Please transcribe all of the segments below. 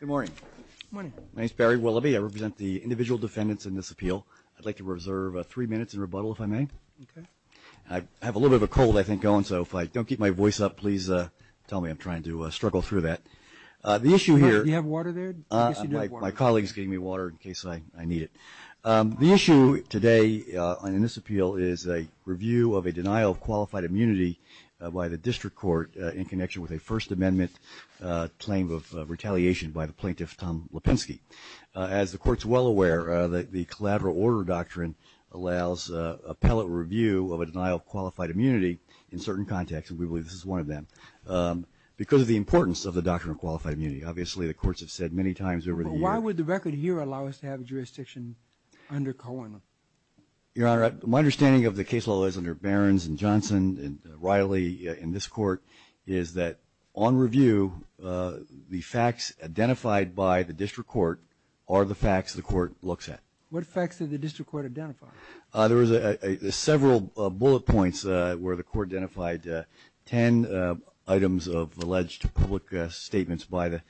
Good morning. My name is Barry Willoughby. I represent the individual defendants in this appeal. I'd like to reserve three minutes in rebuttal, if I may. I have a little bit of a cold, I think, going. So if I don't keep my voice up, please tell me I'm trying to struggle through that. Do you have water there? My colleague's giving me water in case I need it. The issue today in this appeal is a review of a denial of qualified immunity by the district court in connection with a First Amendment claim of retaliation by the plaintiff, Tom Lipinski. As the court's well aware, the collateral order doctrine allows appellate review of a denial of qualified immunity in certain contexts, and we believe this is one of them, because of the importance of the doctrine of qualified immunity. Obviously, the courts have said many times over the years. But why would the record here allow us to have jurisdiction under Cohen? Your Honor, my understanding of the case law is under Barron's and Johnson and Riley in this court, is that on review, the facts identified by the district court are the facts the court looks at. What facts did the district court identify? There was several bullet points where the court identified ten items of alleged public statements by the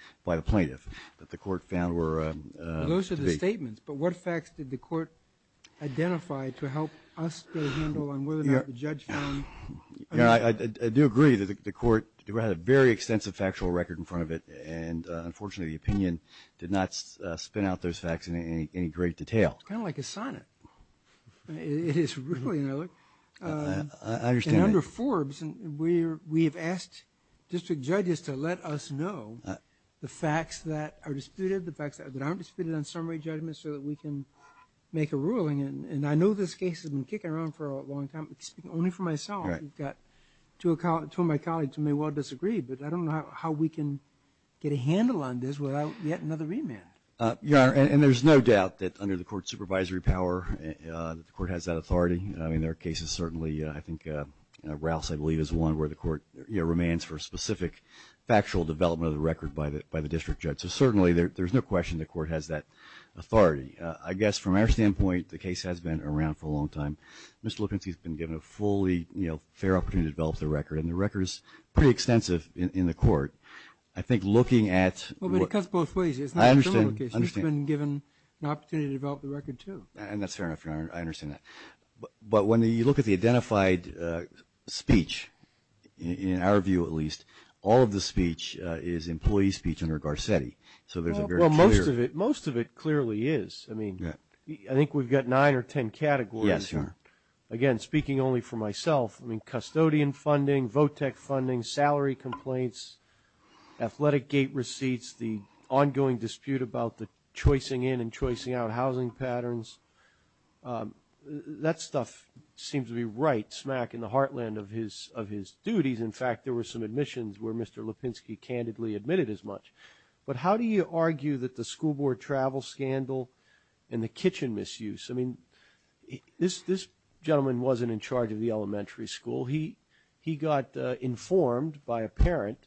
plaintiff that the court found were to be. Public statements, but what facts did the court identify to help us get a handle on whether or not the judge found. Your Honor, I do agree that the court had a very extensive factual record in front of it, and unfortunately, the opinion did not spin out those facts in any great detail. It's kind of like a sonnet. It is really, you know. I understand. And under Forbes, we have asked district judges to let us know the facts that are disputed, the facts that aren't disputed on summary judgments so that we can make a ruling. And I know this case has been kicking around for a long time, but speaking only for myself, I've got two of my colleagues who may well disagree, but I don't know how we can get a handle on this without yet another remand. Your Honor, and there's no doubt that under the court's supervisory power, the court has that authority. I mean, there are cases certainly, I think, Rouse, I believe, is one where the court, you know, remains for specific factual development of the record by the district judge. So certainly, there's no question the court has that authority. I guess from our standpoint, the case has been around for a long time. Mr. Lukensky has been given a fully, you know, fair opportunity to develop the record, and the record is pretty extensive in the court. I think looking at what – Well, but it cuts both ways. I understand. You should have been given an opportunity to develop the record too. And that's fair enough, Your Honor. I understand that. But when you look at the identified speech, in our view at least, all of the speech is employee speech under Garcetti. So there's a very clear – Well, most of it clearly is. I mean, I think we've got nine or ten categories here. Yes, Your Honor. Again, speaking only for myself, I mean, custodian funding, VOTEC funding, salary complaints, athletic gate receipts, the ongoing dispute about the choicing in and choicing out housing patterns, that stuff seems to be right smack in the heartland of his duties. In fact, there were some admissions where Mr. Lipinski candidly admitted as much. But how do you argue that the school board travel scandal and the kitchen misuse, I mean, this gentleman wasn't in charge of the elementary school. He got informed by a parent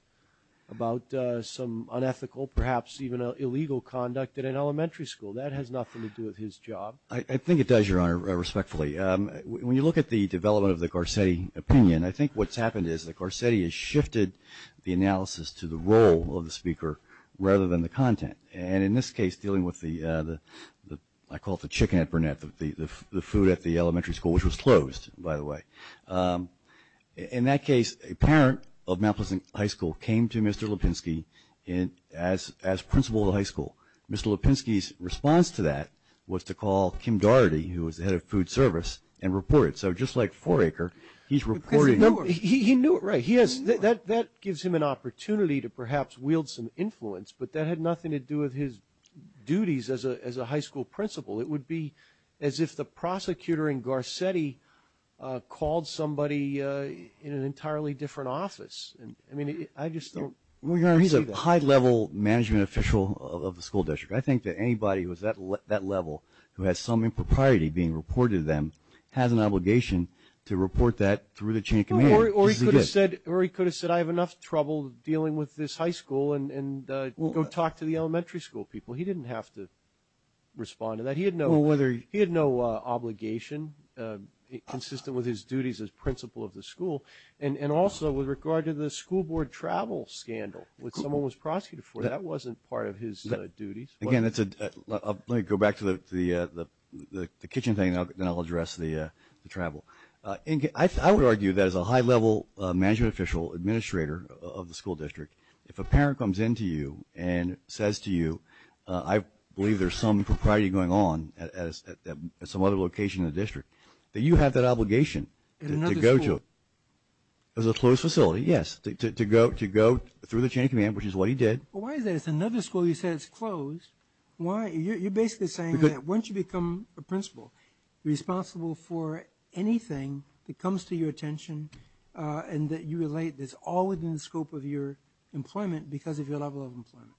about some unethical, perhaps even illegal, conduct at an elementary school. That has nothing to do with his job. I think it does, Your Honor, respectfully. When you look at the development of the Garcetti opinion, I think what's happened is that Garcetti has shifted the analysis to the role of the speaker rather than the content. And in this case, dealing with the – I call it the chicken at Burnett, the food at the elementary school, which was closed, by the way. In that case, a parent of Mount Pleasant High School came to Mr. Lipinski as principal of the high school. Mr. Lipinski's response to that was to call Kim Dougherty, who was the head of food service, and report it. So just like Foraker, he's reporting. He knew it, right. That gives him an opportunity to perhaps wield some influence, but that had nothing to do with his duties as a high school principal. It would be as if the prosecutor in Garcetti called somebody in an entirely different office. I mean, I just don't see that. Well, Your Honor, he's a high-level management official of the school district. I think that anybody who is at that level who has some impropriety being reported to them has an obligation to report that through the chain of command. Or he could have said, I have enough trouble dealing with this high school and go talk to the elementary school people. He didn't have to respond to that. He had no obligation consistent with his duties as principal of the school. And also, with regard to the school board travel scandal, which someone was prosecuted for, that wasn't part of his duties. Again, let me go back to the kitchen thing, and then I'll address the travel. I would argue that as a high-level management official, administrator of the school district, if a parent comes in to you and says to you, I believe there's some propriety going on at some other location in the district, that you have that obligation to go to a closed facility, yes, to go through the chain of command, which is what he did. Why is that? It's another school you said is closed. Why? You're basically saying that once you become a principal, you're responsible for anything that comes to your attention and that you relate that's all within the scope of your employment because of your level of employment.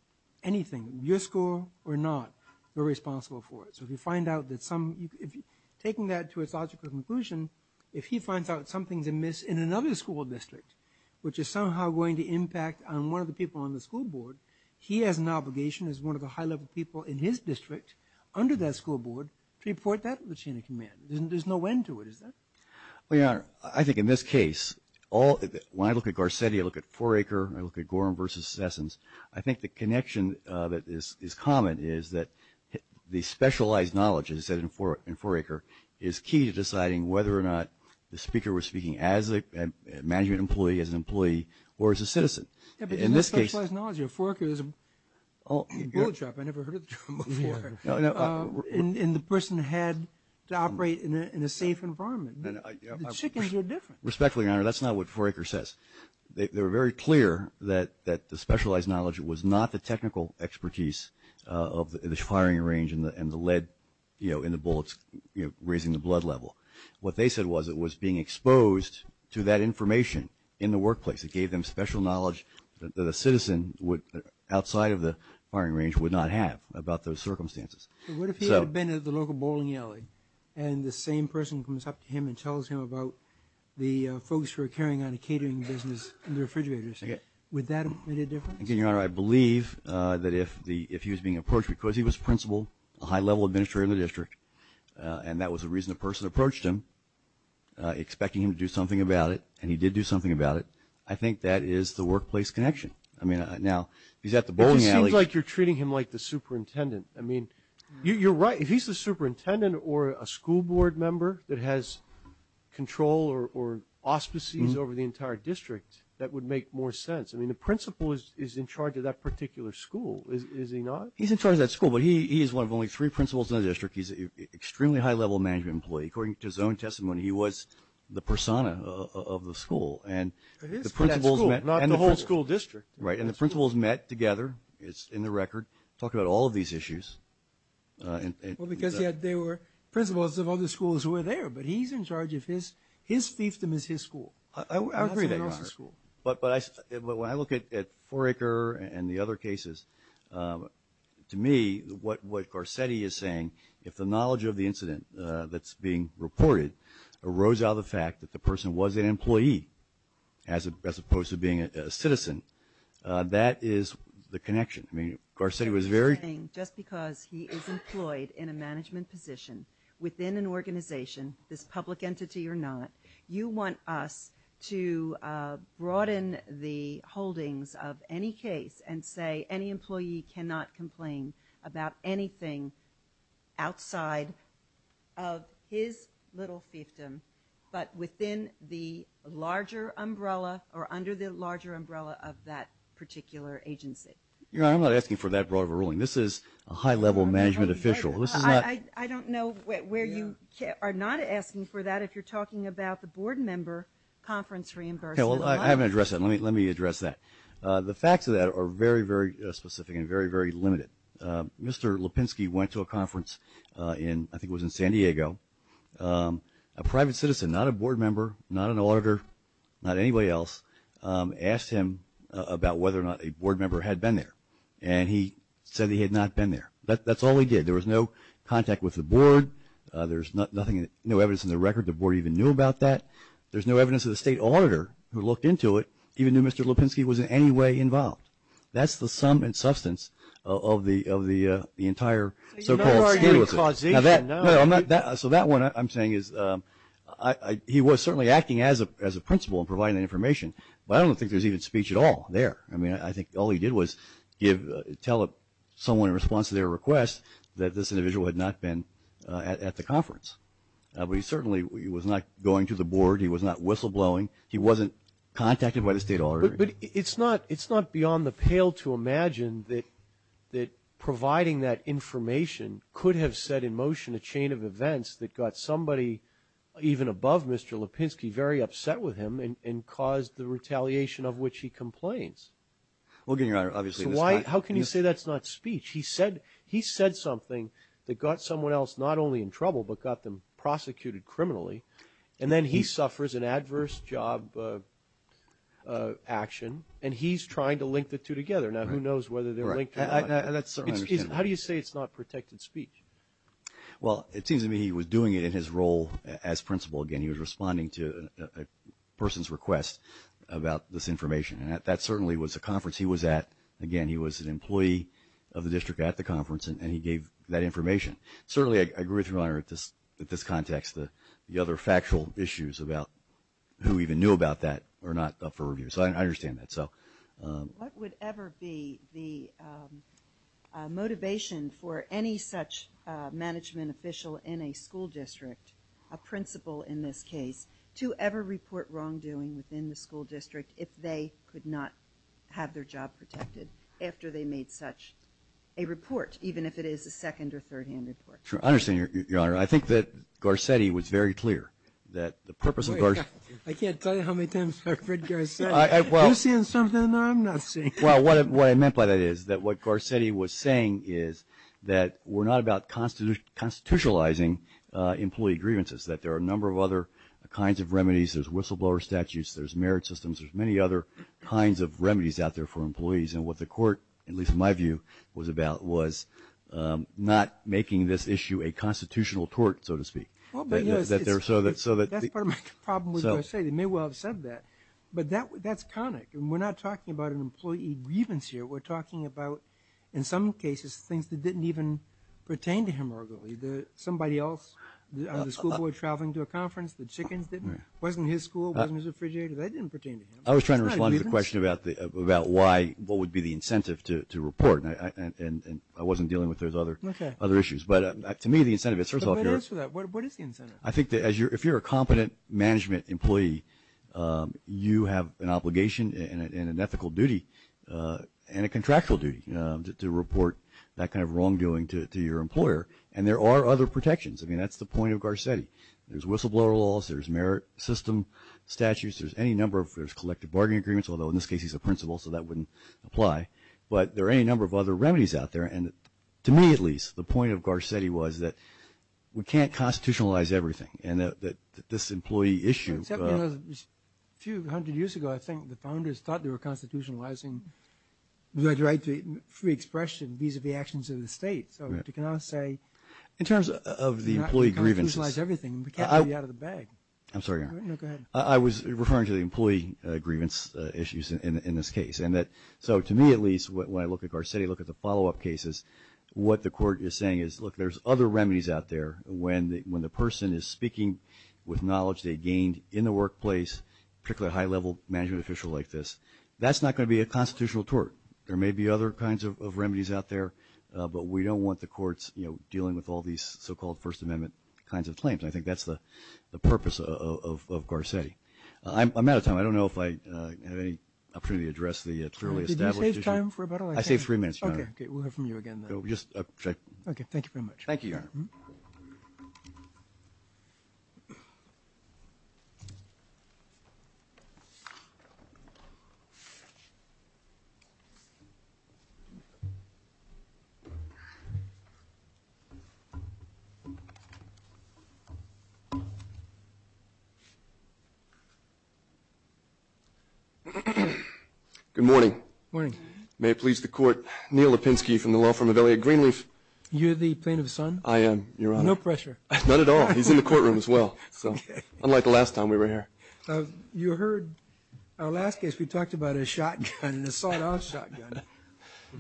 Anything, your school or not, you're responsible for it. So if you find out that some – taking that to its logical conclusion, if he finds out something's amiss in another school district, which is somehow going to impact on one of the people on the school board, he has an obligation as one of the high-level people in his district under that school board to report that to the chain of command. There's no end to it, is there? Well, Your Honor, I think in this case, when I look at Garcetti, I look at 4 Acre, I look at Gorham versus Sessons, I think the connection that is common is that the specialized knowledge, as I said, in 4 Acre, is key to deciding whether or not the speaker was speaking as a management employee, as an employee, or as a citizen. Yeah, but isn't that specialized knowledge? 4 Acre is a bullet shop. I never heard the term before. And the person had to operate in a safe environment. Chickens are different. Respectfully, Your Honor, that's not what 4 Acre says. They were very clear that the specialized knowledge was not the technical expertise of the firing range and the lead in the bullets raising the blood level. What they said was it was being exposed to that information in the workplace. It gave them special knowledge that a citizen outside of the firing range would not have about those circumstances. What if he had been at the local bowling alley and the same person comes up to him and tells him about the folks who are carrying on a catering business in the refrigerators? Would that make a difference? Again, Your Honor, I believe that if he was being approached because he was principal, a high-level administrator in the district, and that was the reason the person approached him, expecting him to do something about it, and he did do something about it, I think that is the workplace connection. I mean, now, he's at the bowling alley. It just seems like you're treating him like the superintendent. I mean, you're right. If he's the superintendent or a school board member that has control or auspices over the entire district, that would make more sense. I mean, the principal is in charge of that particular school, is he not? He's in charge of that school, but he is one of only three principals in the district. He's an extremely high-level management employee. According to his own testimony, he was the persona of the school. But he's in charge of that school, not the whole school district. Right, and the principals met together, it's in the record, talked about all of these issues. Well, because there were principals of other schools who were there, but he's in charge of his fiefdom is his school. I agree that, Your Honor. But when I look at Foraker and the other cases, to me, what Garcetti is saying, if the knowledge of the incident that's being reported arose out of the fact that the person was an employee as opposed to being a citizen, that is the connection. I mean, Garcetti was very – You're saying just because he is employed in a management position within an organization, this public entity or not, you want us to broaden the holdings of any case and say any employee cannot complain about anything outside of his little fiefdom, but within the larger umbrella or under the larger umbrella of that particular agency. Your Honor, I'm not asking for that broad of a ruling. This is a high-level management official. I don't know where you are not asking for that if you're talking about the board member conference reimbursement. Well, I haven't addressed that. Let me address that. The facts of that are very, very specific and very, very limited. Mr. Lipinski went to a conference in – I think it was in San Diego. A private citizen, not a board member, not an auditor, not anybody else, asked him about whether or not a board member had been there, and he said he had not been there. That's all he did. There was no contact with the board. There's no evidence in the record the board even knew about that. There's no evidence of the state auditor who looked into it, even though Mr. Lipinski was in any way involved. That's the sum and substance of the entire so-called scandal. So that one I'm saying is he was certainly acting as a principal and providing the information, but I don't think there's even speech at all there. I mean, I think all he did was tell someone in response to their request that this individual had not been at the conference. But he certainly was not going to the board. He was not whistleblowing. He wasn't contacted by the state auditor. But it's not beyond the pale to imagine that providing that information could have set in motion a chain of events that got somebody even above Mr. Lipinski very upset with him and caused the retaliation of which he complains. So how can you say that's not speech? He said something that got someone else not only in trouble but got them prosecuted criminally, and then he suffers an adverse job action, and he's trying to link the two together. Now, who knows whether they're linked or not. How do you say it's not protected speech? Well, it seems to me he was doing it in his role as principal. Again, he was responding to a person's request about this information, and that certainly was a conference he was at. Again, he was an employee of the district at the conference, and he gave that information. Certainly, I agree with you, Your Honor, at this context, the other factual issues about who even knew about that are not up for review. So I understand that. What would ever be the motivation for any such management official in a school district, a principal in this case, to ever report wrongdoing within the school district if they could not have their job protected after they made such a report, even if it is a second- or third-hand report? I understand, Your Honor. I think that Garcetti was very clear that the purpose of Garcetti. I can't tell you how many times I've heard Garcetti. You're seeing something I'm not seeing. Well, what I meant by that is that what Garcetti was saying is that we're not about constitutionalizing employee grievances, that there are a number of other kinds of remedies. There's whistleblower statutes. There's merit systems. There's many other kinds of remedies out there for employees. And what the Court, at least in my view, was about was not making this issue a constitutional tort, so to speak. That's part of my problem with Garcetti. They may well have said that, but that's conic. We're not talking about an employee grievance here. We're talking about, in some cases, things that didn't even pertain to him or her. Somebody else, the school boy traveling to a conference, the chickens, wasn't his school, wasn't his refrigerator. That didn't pertain to him. I was trying to respond to the question about why, what would be the incentive to report, and I wasn't dealing with those other issues. But to me, the incentive is first of all. What is the incentive? I think that if you're a competent management employee, you have an obligation and an ethical duty and a contractual duty to report that kind of wrongdoing to your employer. And there are other protections. I mean, that's the point of Garcetti. There's whistleblower laws. There's merit system statutes. There's any number of collective bargaining agreements, although in this case he's a principal, so that wouldn't apply. But there are any number of other remedies out there. And to me, at least, the point of Garcetti was that we can't constitutionalize everything and that this employee issue. Except, you know, a few hundred years ago I think the founders thought they were constitutionalizing the right to free expression vis-a-vis actions of the state. So you cannot say. In terms of the employee grievances. You cannot constitutionalize everything. We can't get you out of the bag. I'm sorry. No, go ahead. I was referring to the employee grievance issues in this case. So to me, at least, when I look at Garcetti, look at the follow-up cases, what the court is saying is, look, there's other remedies out there. When the person is speaking with knowledge they gained in the workplace, particularly a high-level management official like this, that's not going to be a constitutional tort. There may be other kinds of remedies out there, but we don't want the courts dealing with all these so-called First Amendment kinds of claims. I think that's the purpose of Garcetti. I'm out of time. I don't know if I have any opportunity to address the clearly established issue. Did you save time for about all I said? I saved three minutes, Your Honor. Okay. We'll hear from you again then. Thank you very much. Thank you, Your Honor. Good morning. Good morning. May it please the Court, Neil Lipinski from the law firm of Elliott Greenleaf. You're the plaintiff's son? I am, Your Honor. No pressure. Not at all. He's in the courtroom as well. So unlike the last time we were here. You heard our last case, we talked about a shotgun, an assault-on shotgun.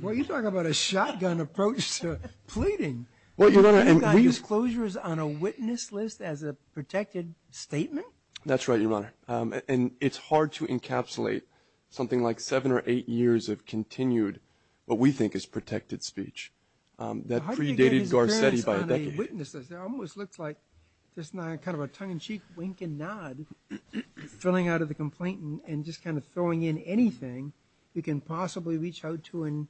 Well, you're talking about a shotgun approach to pleading. Well, Your Honor, and we You got these closures on a witness list as a protected statement? That's right, Your Honor. And it's hard to encapsulate something like seven or eight years of continued, what we think is protected speech. That predated Garcetti by a decade. How did he get his hands on a witness list? It almost looks like just kind of a tongue-in-cheek, wink-and-nod, filling out of the complaint and just kind of throwing in anything you can possibly reach out to and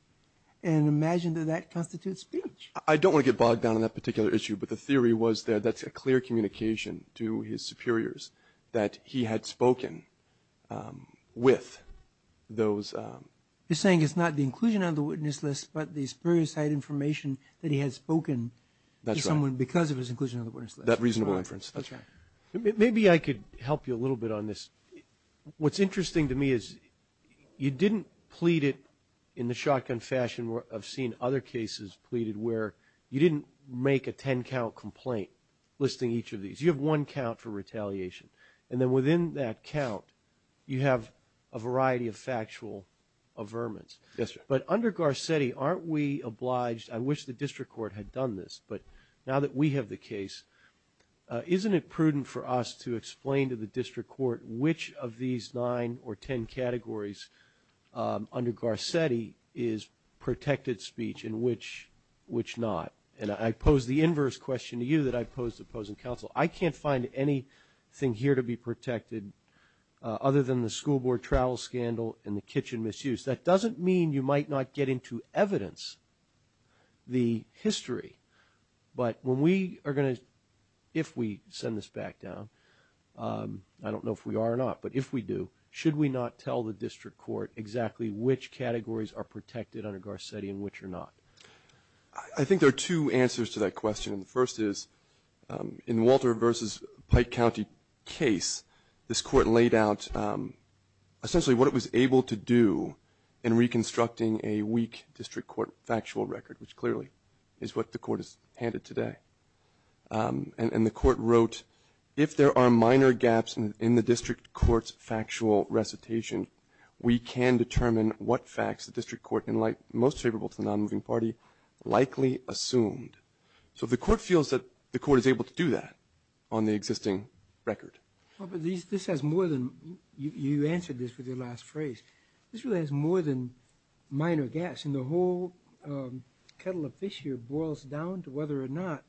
imagine that that constitutes speech. I don't want to get bogged down in that particular issue, but the theory was that that's a clear communication to his superiors, that he had spoken with those. You're saying it's not the inclusion on the witness list, but the superior side information that he had spoken to someone because of his inclusion on the witness list. That reasonable inference. That's right. Maybe I could help you a little bit on this. What's interesting to me is you didn't plead it in the shotgun fashion of seeing other cases pleaded where you didn't make a ten-count complaint listing each of these. You have one count for retaliation. And then within that count, you have a variety of factual averments. Yes, sir. But under Garcetti, aren't we obliged? I wish the district court had done this. But now that we have the case, isn't it prudent for us to explain to the district court which of these nine or ten categories under Garcetti is protected speech and which not? And I pose the inverse question to you that I pose to opposing counsel. I can't find anything here to be protected other than the school board travel scandal and the kitchen misuse. That doesn't mean you might not get into evidence the history, but when we are going to, if we send this back down, I don't know if we are or not, but if we do, should we not tell the district court exactly which categories are protected under Garcetti and which are not? I think there are two answers to that question. The first is in Walter versus Pike County case, this court laid out essentially what it was able to do in reconstructing a weak district court factual record, which clearly is what the court has handed today. And the court wrote, if there are minor gaps in the district court's factual recitation, we can determine what facts the district court in light most favorable to the non-moving party likely assumed. So the court feels that the court is able to do that on the existing record. But this has more than, you answered this with your last phrase, this really has more than minor gaps. And the whole kettle of fish here boils down to whether or not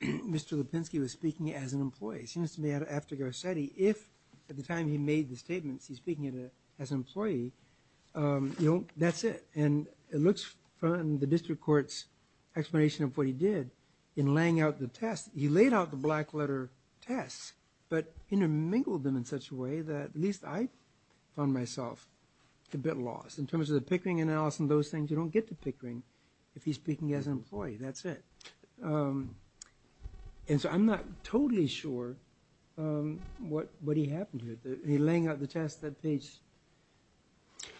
Mr. Garcetti, if at the time he made the statements, he's speaking as an employee, you know, that's it. And it looks from the district court's explanation of what he did in laying out the test, he laid out the black letter tests, but intermingled them in such a way that at least I found myself a bit lost in terms of the Pickering analysis and those things. You don't get to Pickering if he's speaking as an employee, that's it. And so I'm not totally sure what he happened here. He's laying out the test at page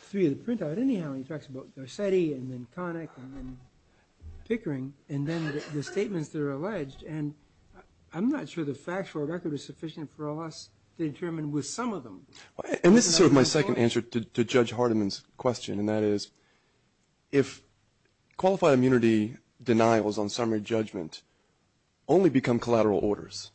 three of the printout. Anyhow, he talks about Garcetti and then Connick and then Pickering, and then the statements that are alleged. And I'm not sure the factual record is sufficient for us to determine with some of them. And this is sort of my second answer to Judge Hardiman's question, and that is if qualified immunity denials on summary judgment only become collateral orders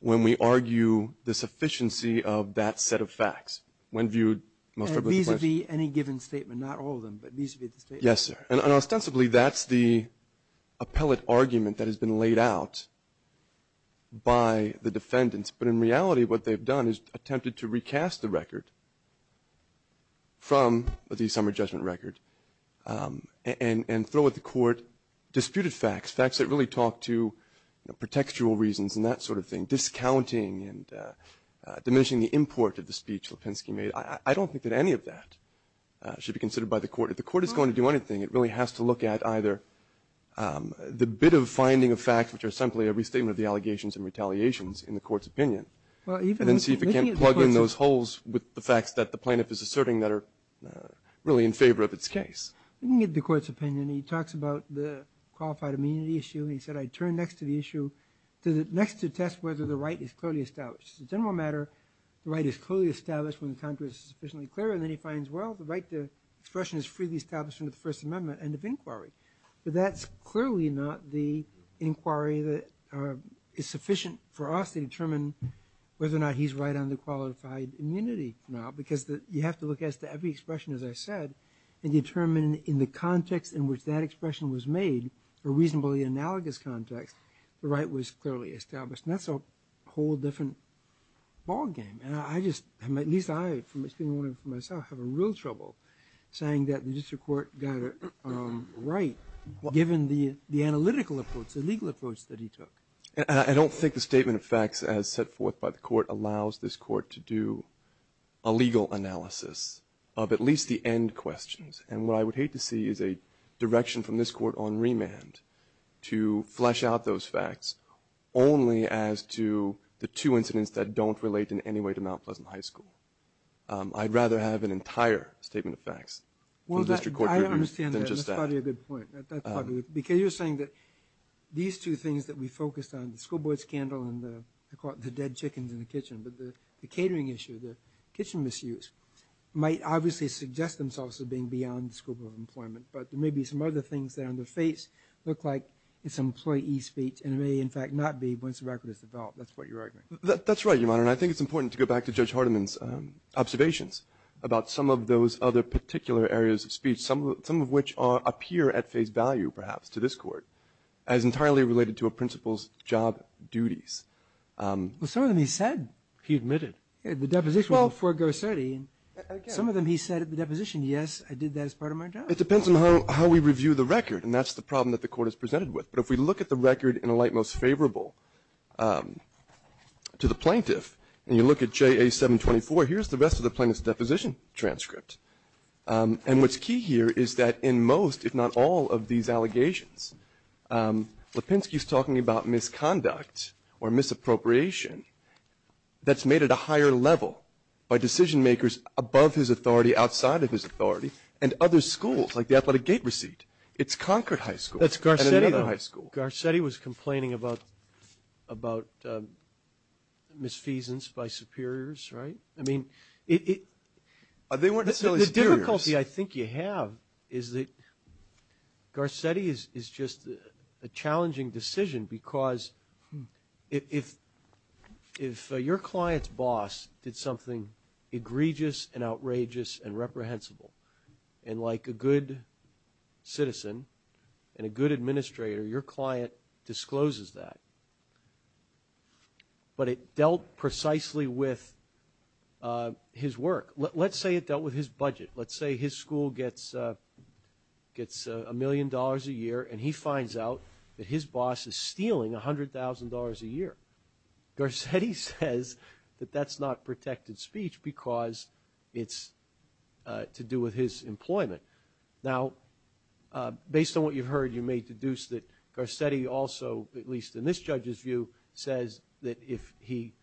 when we argue the sufficiency of that set of facts when viewed most properly. And vis-a-vis any given statement, not all of them, but vis-a-vis the statement. Yes, sir. And ostensibly that's the appellate argument that has been laid out by the defendants. But in reality what they've done is attempted to recast the record from the summary judgment record and throw at the court disputed facts, facts that really talk to pretextual reasons and that sort of thing, discounting and diminishing the import of the speech Lipinski made. I don't think that any of that should be considered by the court. If the court is going to do anything, it really has to look at either the bit of finding of facts, which are simply a restatement of the allegations and retaliations in the court's opinion. And then see if it can't plug in those holes with the facts that the plaintiff is asserting that are really in favor of its case. Looking at the court's opinion, he talks about the qualified immunity issue. He said, I turn next to the issue, next to test whether the right is clearly established. As a general matter, the right is clearly established when the contrary is sufficiently clear. And then he finds, well, the right to expression is freely established under the First Amendment, end of inquiry. But that's clearly not the inquiry that is sufficient for us to determine whether or not he's right on the qualified immunity now. Because you have to look at every expression, as I said, and determine in the context in which that expression was made, a reasonably analogous context, the right was clearly established. And that's a whole different ballgame. And I just, at least I, speaking for myself, have real trouble saying that the district court got it right, given the analytical approach, the legal approach that he took. And I don't think the statement of facts as set forth by the court allows this legal analysis of at least the end questions. And what I would hate to see is a direction from this court on remand to flesh out those facts only as to the two incidents that don't relate in any way to Mount Pleasant High School. I'd rather have an entire statement of facts. Well, I understand that. That's probably a good point. Because you're saying that these two things that we focused on, the school boy scandal and the dead chickens in the kitchen, but the catering issue, the kitchen misuse, might obviously suggest themselves as being beyond the scope of employment. But there may be some other things that on the face look like it's employee speech and may, in fact, not be once the record is developed. That's what you're arguing. That's right, Your Honor. And I think it's important to go back to Judge Hardiman's observations about some of those other particular areas of speech, some of which appear at face value, perhaps, to this court as entirely related to a principal's job duties. Well, some of them he said, he admitted. The deposition of Fort Garcetti, some of them he said at the deposition, yes, I did that as part of my job. It depends on how we review the record. And that's the problem that the Court has presented with. But if we look at the record in a light most favorable to the plaintiff, and you look at JA 724, here's the rest of the plaintiff's deposition transcript. And what's key here is that in most, if not all, of these allegations, Lipinski is talking about misconduct or misappropriation that's made at a high or higher level by decision makers above his authority, outside of his authority, and other schools, like the Athletic Gate Receipt. It's Concord High School and another high school. That's Garcetti, though. Garcetti was complaining about misfeasance by superiors, right? I mean, it – They weren't necessarily superiors. The difficulty I think you have is that Garcetti is just a challenging decision because if your client's boss did something egregious and outrageous and reprehensible, and like a good citizen and a good administrator, your client discloses that. But it dealt precisely with his work. Let's say it dealt with his budget. Let's say his school gets a million dollars a year, and he finds out that his boss is stealing $100,000 a year. Garcetti says that that's not protected speech because it's to do with his employment. Now, based on what you've heard, you may deduce that Garcetti also, at least in this judge's view, says that if he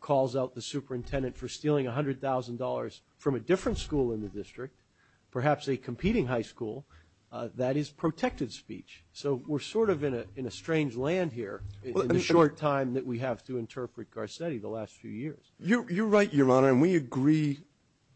calls out the superintendent for stealing $100,000 from a different school in the district, perhaps a competing high school, that is protected speech. So we're sort of in a strange land here in the short time that we have to interpret Garcetti the last few years. You're right, Your Honor, and we agree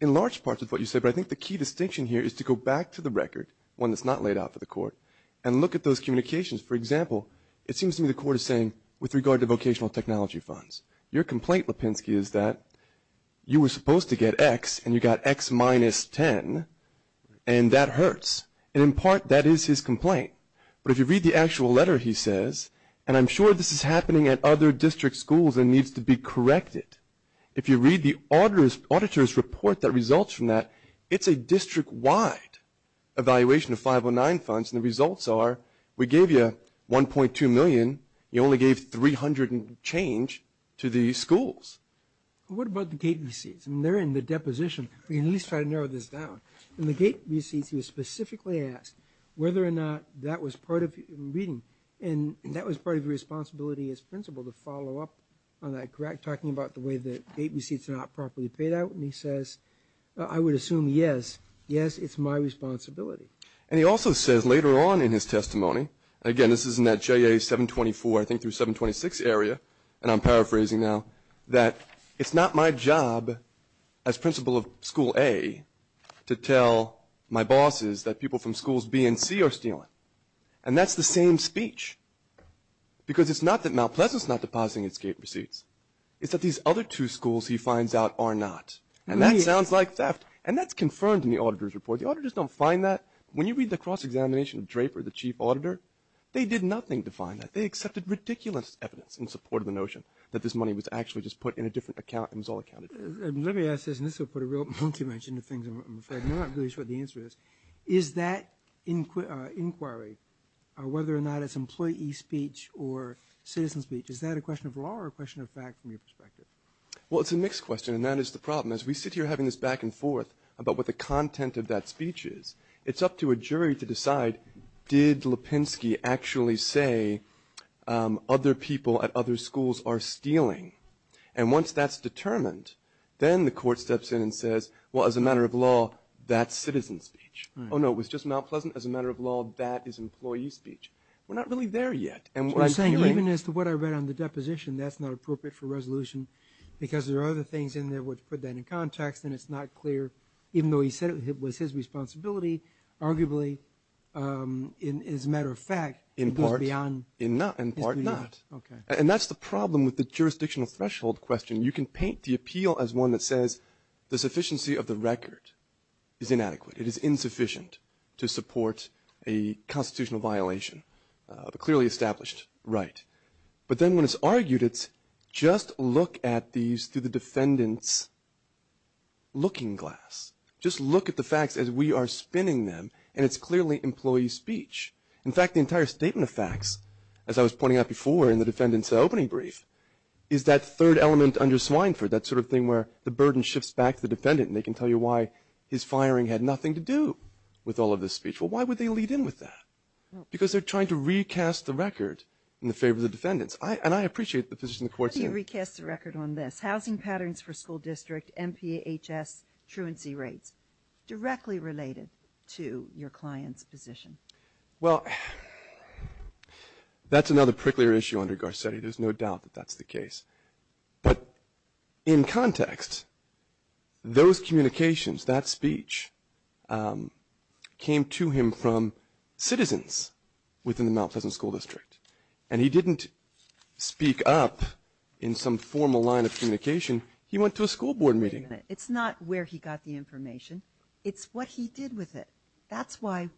in large part with what you said, but I think the key distinction here is to go back to the record, one that's not laid out for the Court, and look at those communications. For example, it seems to me the Court is saying with regard to vocational technology funds, your complaint, Lipinski, is that you were supposed to get X, and you got X minus 10, and that hurts. And in part, that is his complaint. But if you read the actual letter, he says, and I'm sure this is happening at other district schools and needs to be corrected. If you read the auditor's report that results from that, it's a district-wide evaluation of 509 funds, and the results are we gave you $1.2 million. You only gave $300 and change to these schools. What about the gate receipts? And they're in the deposition. We can at least try to narrow this down. In the gate receipts, he was specifically asked whether or not that was part of reading, and that was part of your responsibility as principal to follow up on that, correct, talking about the way the gate receipts are not properly paid out. And he says, I would assume, yes, yes, it's my responsibility. And he also says later on in his testimony, again, this is in that JA 724, I think through 726 area, and I'm paraphrasing now, that it's not my job as principal of school A to tell my bosses that people from schools B and C are stealing. And that's the same speech because it's not that Mount Pleasant is not depositing its gate receipts. It's that these other two schools, he finds out, are not. And that sounds like theft. And that's confirmed in the auditor's report. The auditors don't find that. When you read the cross-examination of Draper, the chief auditor, they did nothing to find that. They accepted ridiculous evidence in support of the notion that this money was actually just put in a different account and was all accounted for. Let me ask this, and this will put a real monkey wrench into things. I'm not really sure what the answer is. Is that inquiry, whether or not it's employee speech or citizen speech, is that a question of law or a question of fact from your perspective? Well, it's a mixed question, and that is the problem. As we sit here having this back and forth about what the content of that speech is, it's up to a jury to decide, did Lipinski actually say other people at other schools are stealing? And once that's determined, then the court steps in and says, well, as a matter of law, that's citizen speech. Oh, no, it was just Mount Pleasant. As a matter of law, that is employee speech. We're not really there yet. So you're saying even as to what I read on the deposition, that's not appropriate for resolution because there are other things in there where to put that in context, and it's not clear. Even though he said it was his responsibility, arguably, as a matter of fact, it goes beyond his duty. In part, not. And that's the problem with the jurisdictional threshold question. You can paint the appeal as one that says the sufficiency of the record is inadequate. It is insufficient to support a constitutional violation of a clearly established right. But then when it's argued, it's just look at these through the defendant's looking glass. Just look at the facts as we are spinning them, and it's clearly employee speech. In fact, the entire statement of facts, as I was pointing out before in the defendant's opening brief, is that third element under Swineford, that sort of thing where the burden shifts back to the defendant and they can tell you why his firing had nothing to do with all of this speech. Well, why would they lead in with that? Because they're trying to recast the record in the favor of the defendants. And I appreciate the position the Court's in. What do you recast the record on this? Housing patterns for school district, MPHS, truancy rates, directly related to your client's position. Well, that's another pricklier issue under Garcetti. There's no doubt that that's the case. But in context, those communications, that speech, came to him from citizens within the Mount Pleasant School District. And he didn't speak up in some formal line of communication. He went to a school board meeting. Wait a minute. It's not where he got the information. It's what he did with it. That's why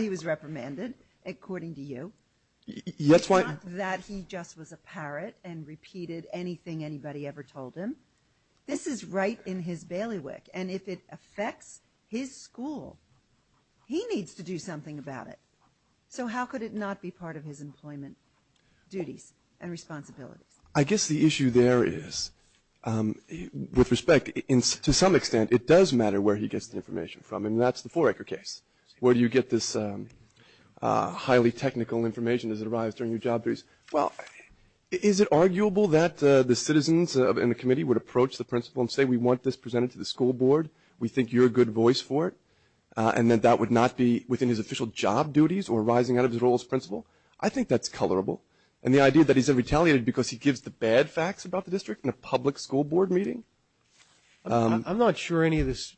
he was reprimanded, according to you. It's not that he just was a parrot and repeated anything anybody ever told him. This is right in his bailiwick. And if it affects his school, he needs to do something about it. So how could it not be part of his employment duties and responsibilities? I guess the issue there is, with respect, to some extent, it does matter where he gets the information from. And that's the Forecker case. Where do you get this highly technical information as it arrives during your job duties? Well, is it arguable that the citizens in the committee would approach the principal and say we want this presented to the school board, we think you're a good voice for it, and that that would not be within his official job duties or rising out of his role as principal? I think that's colorable. And the idea that he's retaliated because he gives the bad facts about the district in a public school board meeting? I'm not sure any of this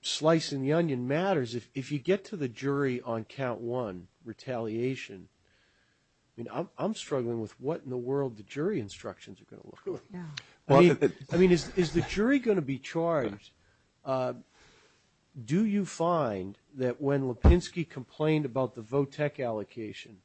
slicing the onion matters. If you get to the jury on count one, retaliation, I'm struggling with what in the world the jury instructions are going to look like. I mean, is the jury going to be charged? Do you find that when Lipinski complained about the VOTEC allocation,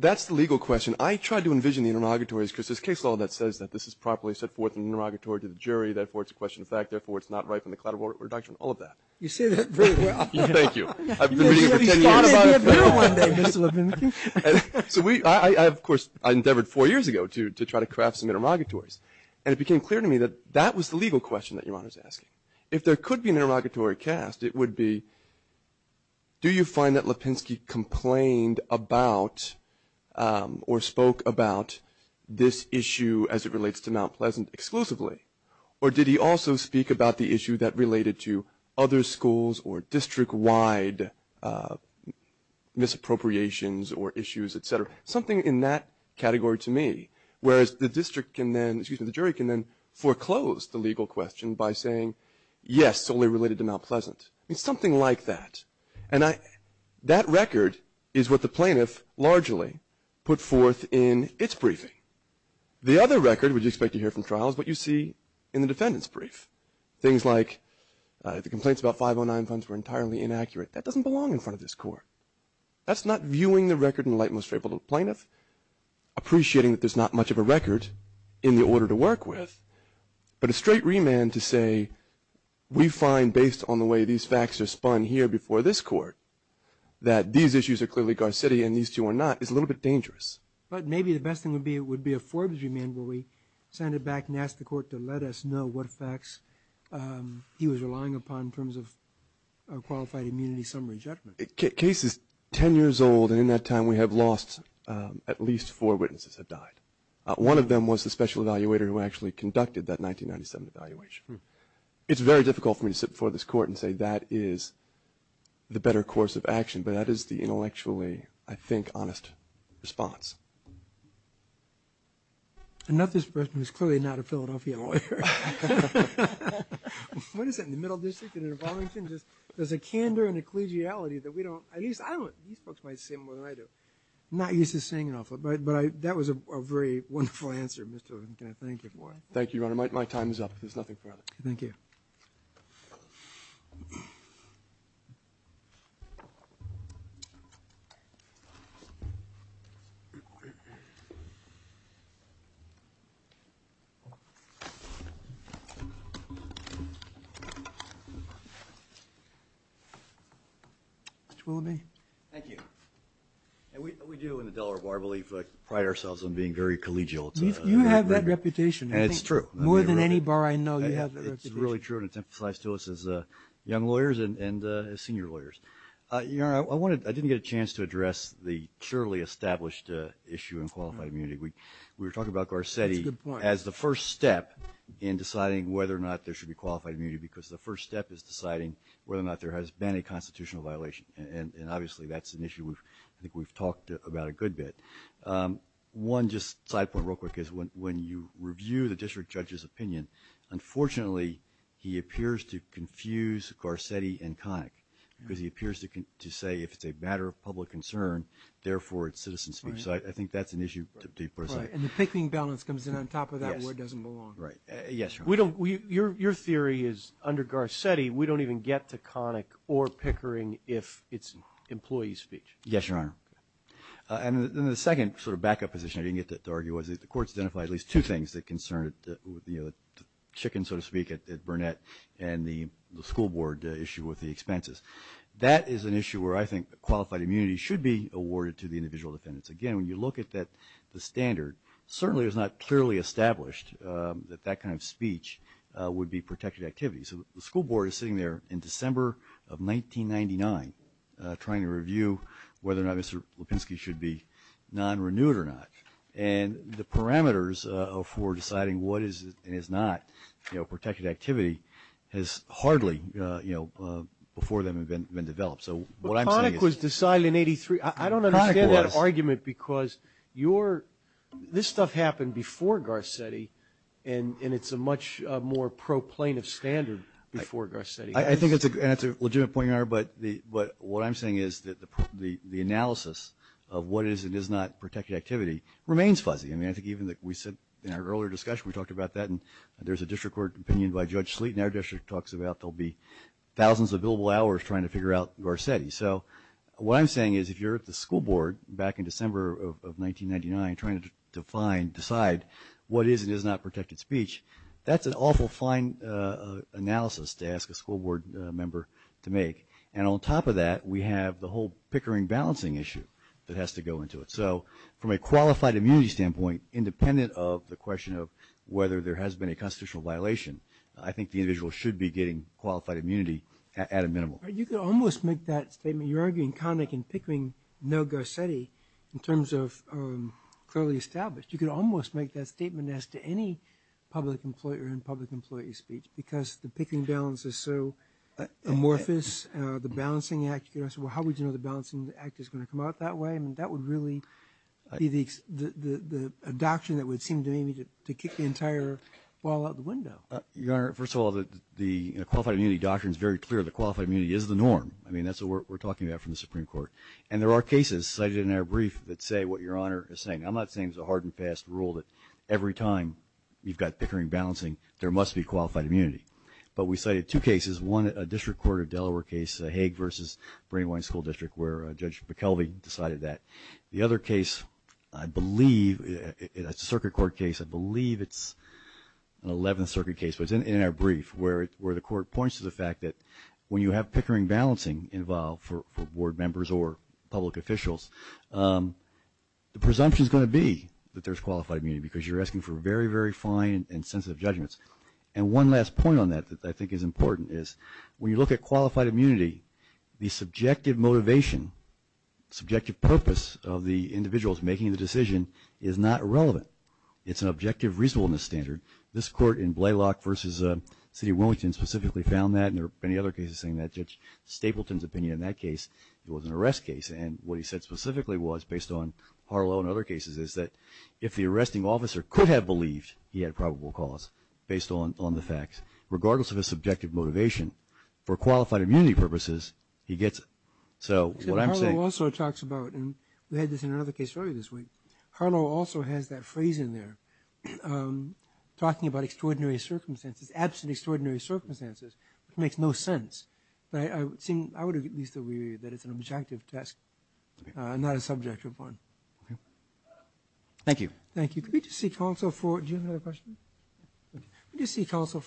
That's the legal question. I tried to envision the interrogatories because there's case law that says that this is properly set forth in an interrogatory to the jury, therefore it's a question of fact, therefore it's not right from the collateral reduction, all of that. You say that very well. Thank you. I've been reading it for 10 years. You'll be in the appeal one day, Mr. Lipinski. So I, of course, I endeavored four years ago to try to craft some interrogatories. And it became clear to me that that was the legal question that Your Honor is asking. If there could be an interrogatory cast, it would be, do you find that Lipinski complained about or spoke about this issue as it relates to Mount Pleasant exclusively? Or did he also speak about the issue that related to other schools or district-wide misappropriations or issues, et cetera? Something in that category to me. Whereas the district can then, excuse me, the jury can then foreclose the legal question by saying, yes, it's only related to Mount Pleasant. I mean, something like that. And that record is what the plaintiff largely put forth in its briefing. The other record, which you expect to hear from trial, is what you see in the defendant's brief. Things like, if the complaints about 509 funds were entirely inaccurate, that doesn't belong in front of this court. That's not viewing the record in the light and most favorable to the plaintiff, appreciating that there's not much of a record in the order to work with, but a straight remand to say, we find, based on the way these facts are spun here before this court, that these issues are clearly Gar-City and these two are not, is a little bit dangerous. But maybe the best thing would be a Forbes remand where we send it back and ask the court to let us know what facts he was relying upon in terms of qualified immunity summary judgment. The case is 10 years old, and in that time we have lost at least four witnesses that died. One of them was the special evaluator who actually conducted that 1997 evaluation. It's very difficult for me to sit before this court and say that is the better course of action, but that is the intellectually, I think, honest response. I know this person is clearly not a Philadelphia lawyer. What is it in the Middle District and in Arlington? There's a candor and a collegiality that we don't, at least I don't, these folks might say more than I do. I'm not used to saying it often, but that was a very wonderful answer. Mr. Lewin, can I thank you for it? Thank you, Your Honor. My time is up. There's nothing further. Thank you. Mr. Willoughby. Thank you. We do in the Delaware Bar believe, pride ourselves on being very collegial. You have that reputation. It's true. More than any bar I know, you have that reputation. It's really true, and it's emphasized to us as young lawyers and as senior lawyers. Your Honor, I didn't get a chance to address the surely established issue in qualified immunity. We were talking about Garcetti as the first step in deciding whether or not there should be qualified immunity because the first step is deciding whether or not there has been a constitutional violation, and obviously that's an issue I think we've talked about a good bit. One just side point real quick is when you review the district judge's opinion, unfortunately he appears to confuse Garcetti and Connick because he appears to say if it's a matter of public concern, therefore it's citizen speech. So I think that's an issue to be put aside. And the picking balance comes in on top of that where it doesn't belong. Right. Yes, Your Honor. Your theory is under Garcetti we don't even get to Connick or Pickering if it's employee speech. Yes, Your Honor. And the second sort of backup position I didn't get to argue was that the courts identified at least two things that concerned the chicken, so to speak, at Burnett and the school board issue with the expenses. That is an issue where I think qualified immunity should be awarded to the individual defendants. Again, when you look at the standard, certainly it's not clearly established that that kind of speech would be protected activity. So the school board is sitting there in December of 1999 trying to review whether or not Mr. Lipinski should be non-renewed or not. And the parameters for deciding what is and is not protected activity has hardly, you know, before then have been developed. But Connick was decided in 83. I don't understand that argument. Because this stuff happened before Garcetti, and it's a much more pro plaintiff standard before Garcetti. I think that's a legitimate point, Your Honor. But what I'm saying is that the analysis of what is and is not protected activity remains fuzzy. I mean, I think even we said in our earlier discussion, we talked about that, and there's a district court opinion by Judge Sleet, and our district talks about there will be thousands of billable hours trying to figure out Garcetti. So what I'm saying is if you're at the school board back in December of 1999 trying to find, decide what is and is not protected speech, that's an awful fine analysis to ask a school board member to make. And on top of that, we have the whole Pickering balancing issue that has to go into it. So from a qualified immunity standpoint, independent of the question of whether there has been a constitutional violation, I think the individual should be getting qualified immunity at a minimal. You could almost make that statement. You're arguing Connick and Pickering know Garcetti in terms of clearly established. You could almost make that statement as to any public employer in public employee speech, because the Pickering balance is so amorphous, the balancing act. You could ask, well, how would you know the balancing act is going to come out that way? I mean, that would really be the adoption that would seem to me to kick the entire ball out the window. Your Honor, first of all, the qualified immunity doctrine is very clear. The qualified immunity is the norm. I mean, that's what we're talking about from the Supreme Court. And there are cases cited in our brief that say what Your Honor is saying. I'm not saying it's a hard and fast rule that every time you've got Pickering balancing, there must be qualified immunity. But we cited two cases, one a district court of Delaware case, Hague versus Brady-Wine School District, where Judge McKelvey decided that. The other case, I believe, it's a circuit court case. I believe it's an 11th Circuit case, but it's in our brief, where the court points to the fact that when you have Pickering balancing involved for board members or public officials, the presumption is going to be that there's qualified immunity because you're asking for very, very fine and sensitive judgments. And one last point on that that I think is important is when you look at qualified immunity, the subjective motivation, subjective purpose of the individuals making the decision is not irrelevant. It's an objective reasonableness standard. This court in Blalock versus the City of Wilmington specifically found that, and there are many other cases saying that. Judge Stapleton's opinion in that case, it was an arrest case. And what he said specifically was, based on Harlow and other cases, is that if the arresting officer could have believed he had probable cause based on the facts, regardless of his subjective motivation, for qualified immunity purposes, he gets it. So what I'm saying – Harlow also talks about, and we had this in another case earlier this week, Harlow also has that phrase in there, talking about extraordinary circumstances, absent extraordinary circumstances, which makes no sense. But I would at least agree that it's an objective test, not a subjective one. Okay. Thank you. Thank you. Could we just seek counsel for – do you have another question? Okay. Could we just seek counsel for –